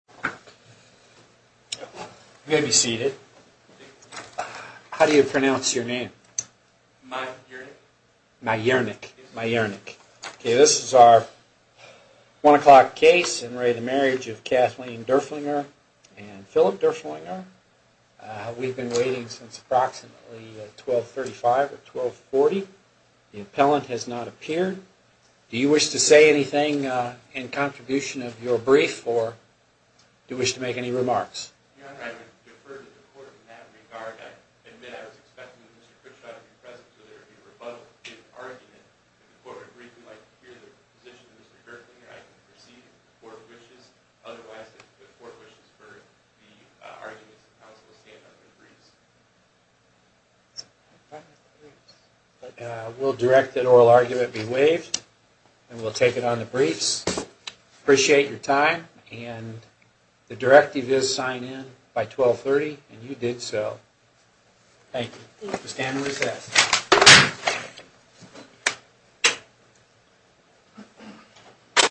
I'm going to be seated. How do you pronounce your name? Myurnick. Myurnick. Yes. Myurnick. Okay, this is our 1 o'clock case in re the Marriage of Kathleen Durflinger and Philip Durflinger. We've been waiting since approximately 1235 or 1240. The appellant has not appeared. Do you wish to say anything in contribution of your brief or do you wish to make any remarks? Your Honor, I would defer to the court in that regard. I admit I was expecting Mr. Critchot to be present so there would be a rebuttal to the argument. If the court would agree, we'd like to hear the position of Mr. Durflinger. I can proceed if the court wishes. Otherwise, if the court wishes for the arguments, the counsel will stand on their briefs. We'll direct that oral argument be waived and we'll take it on the briefs. Appreciate your time and the directive is sign in by 1230 and you did so. Thank you. Thank you. The stand is recessed.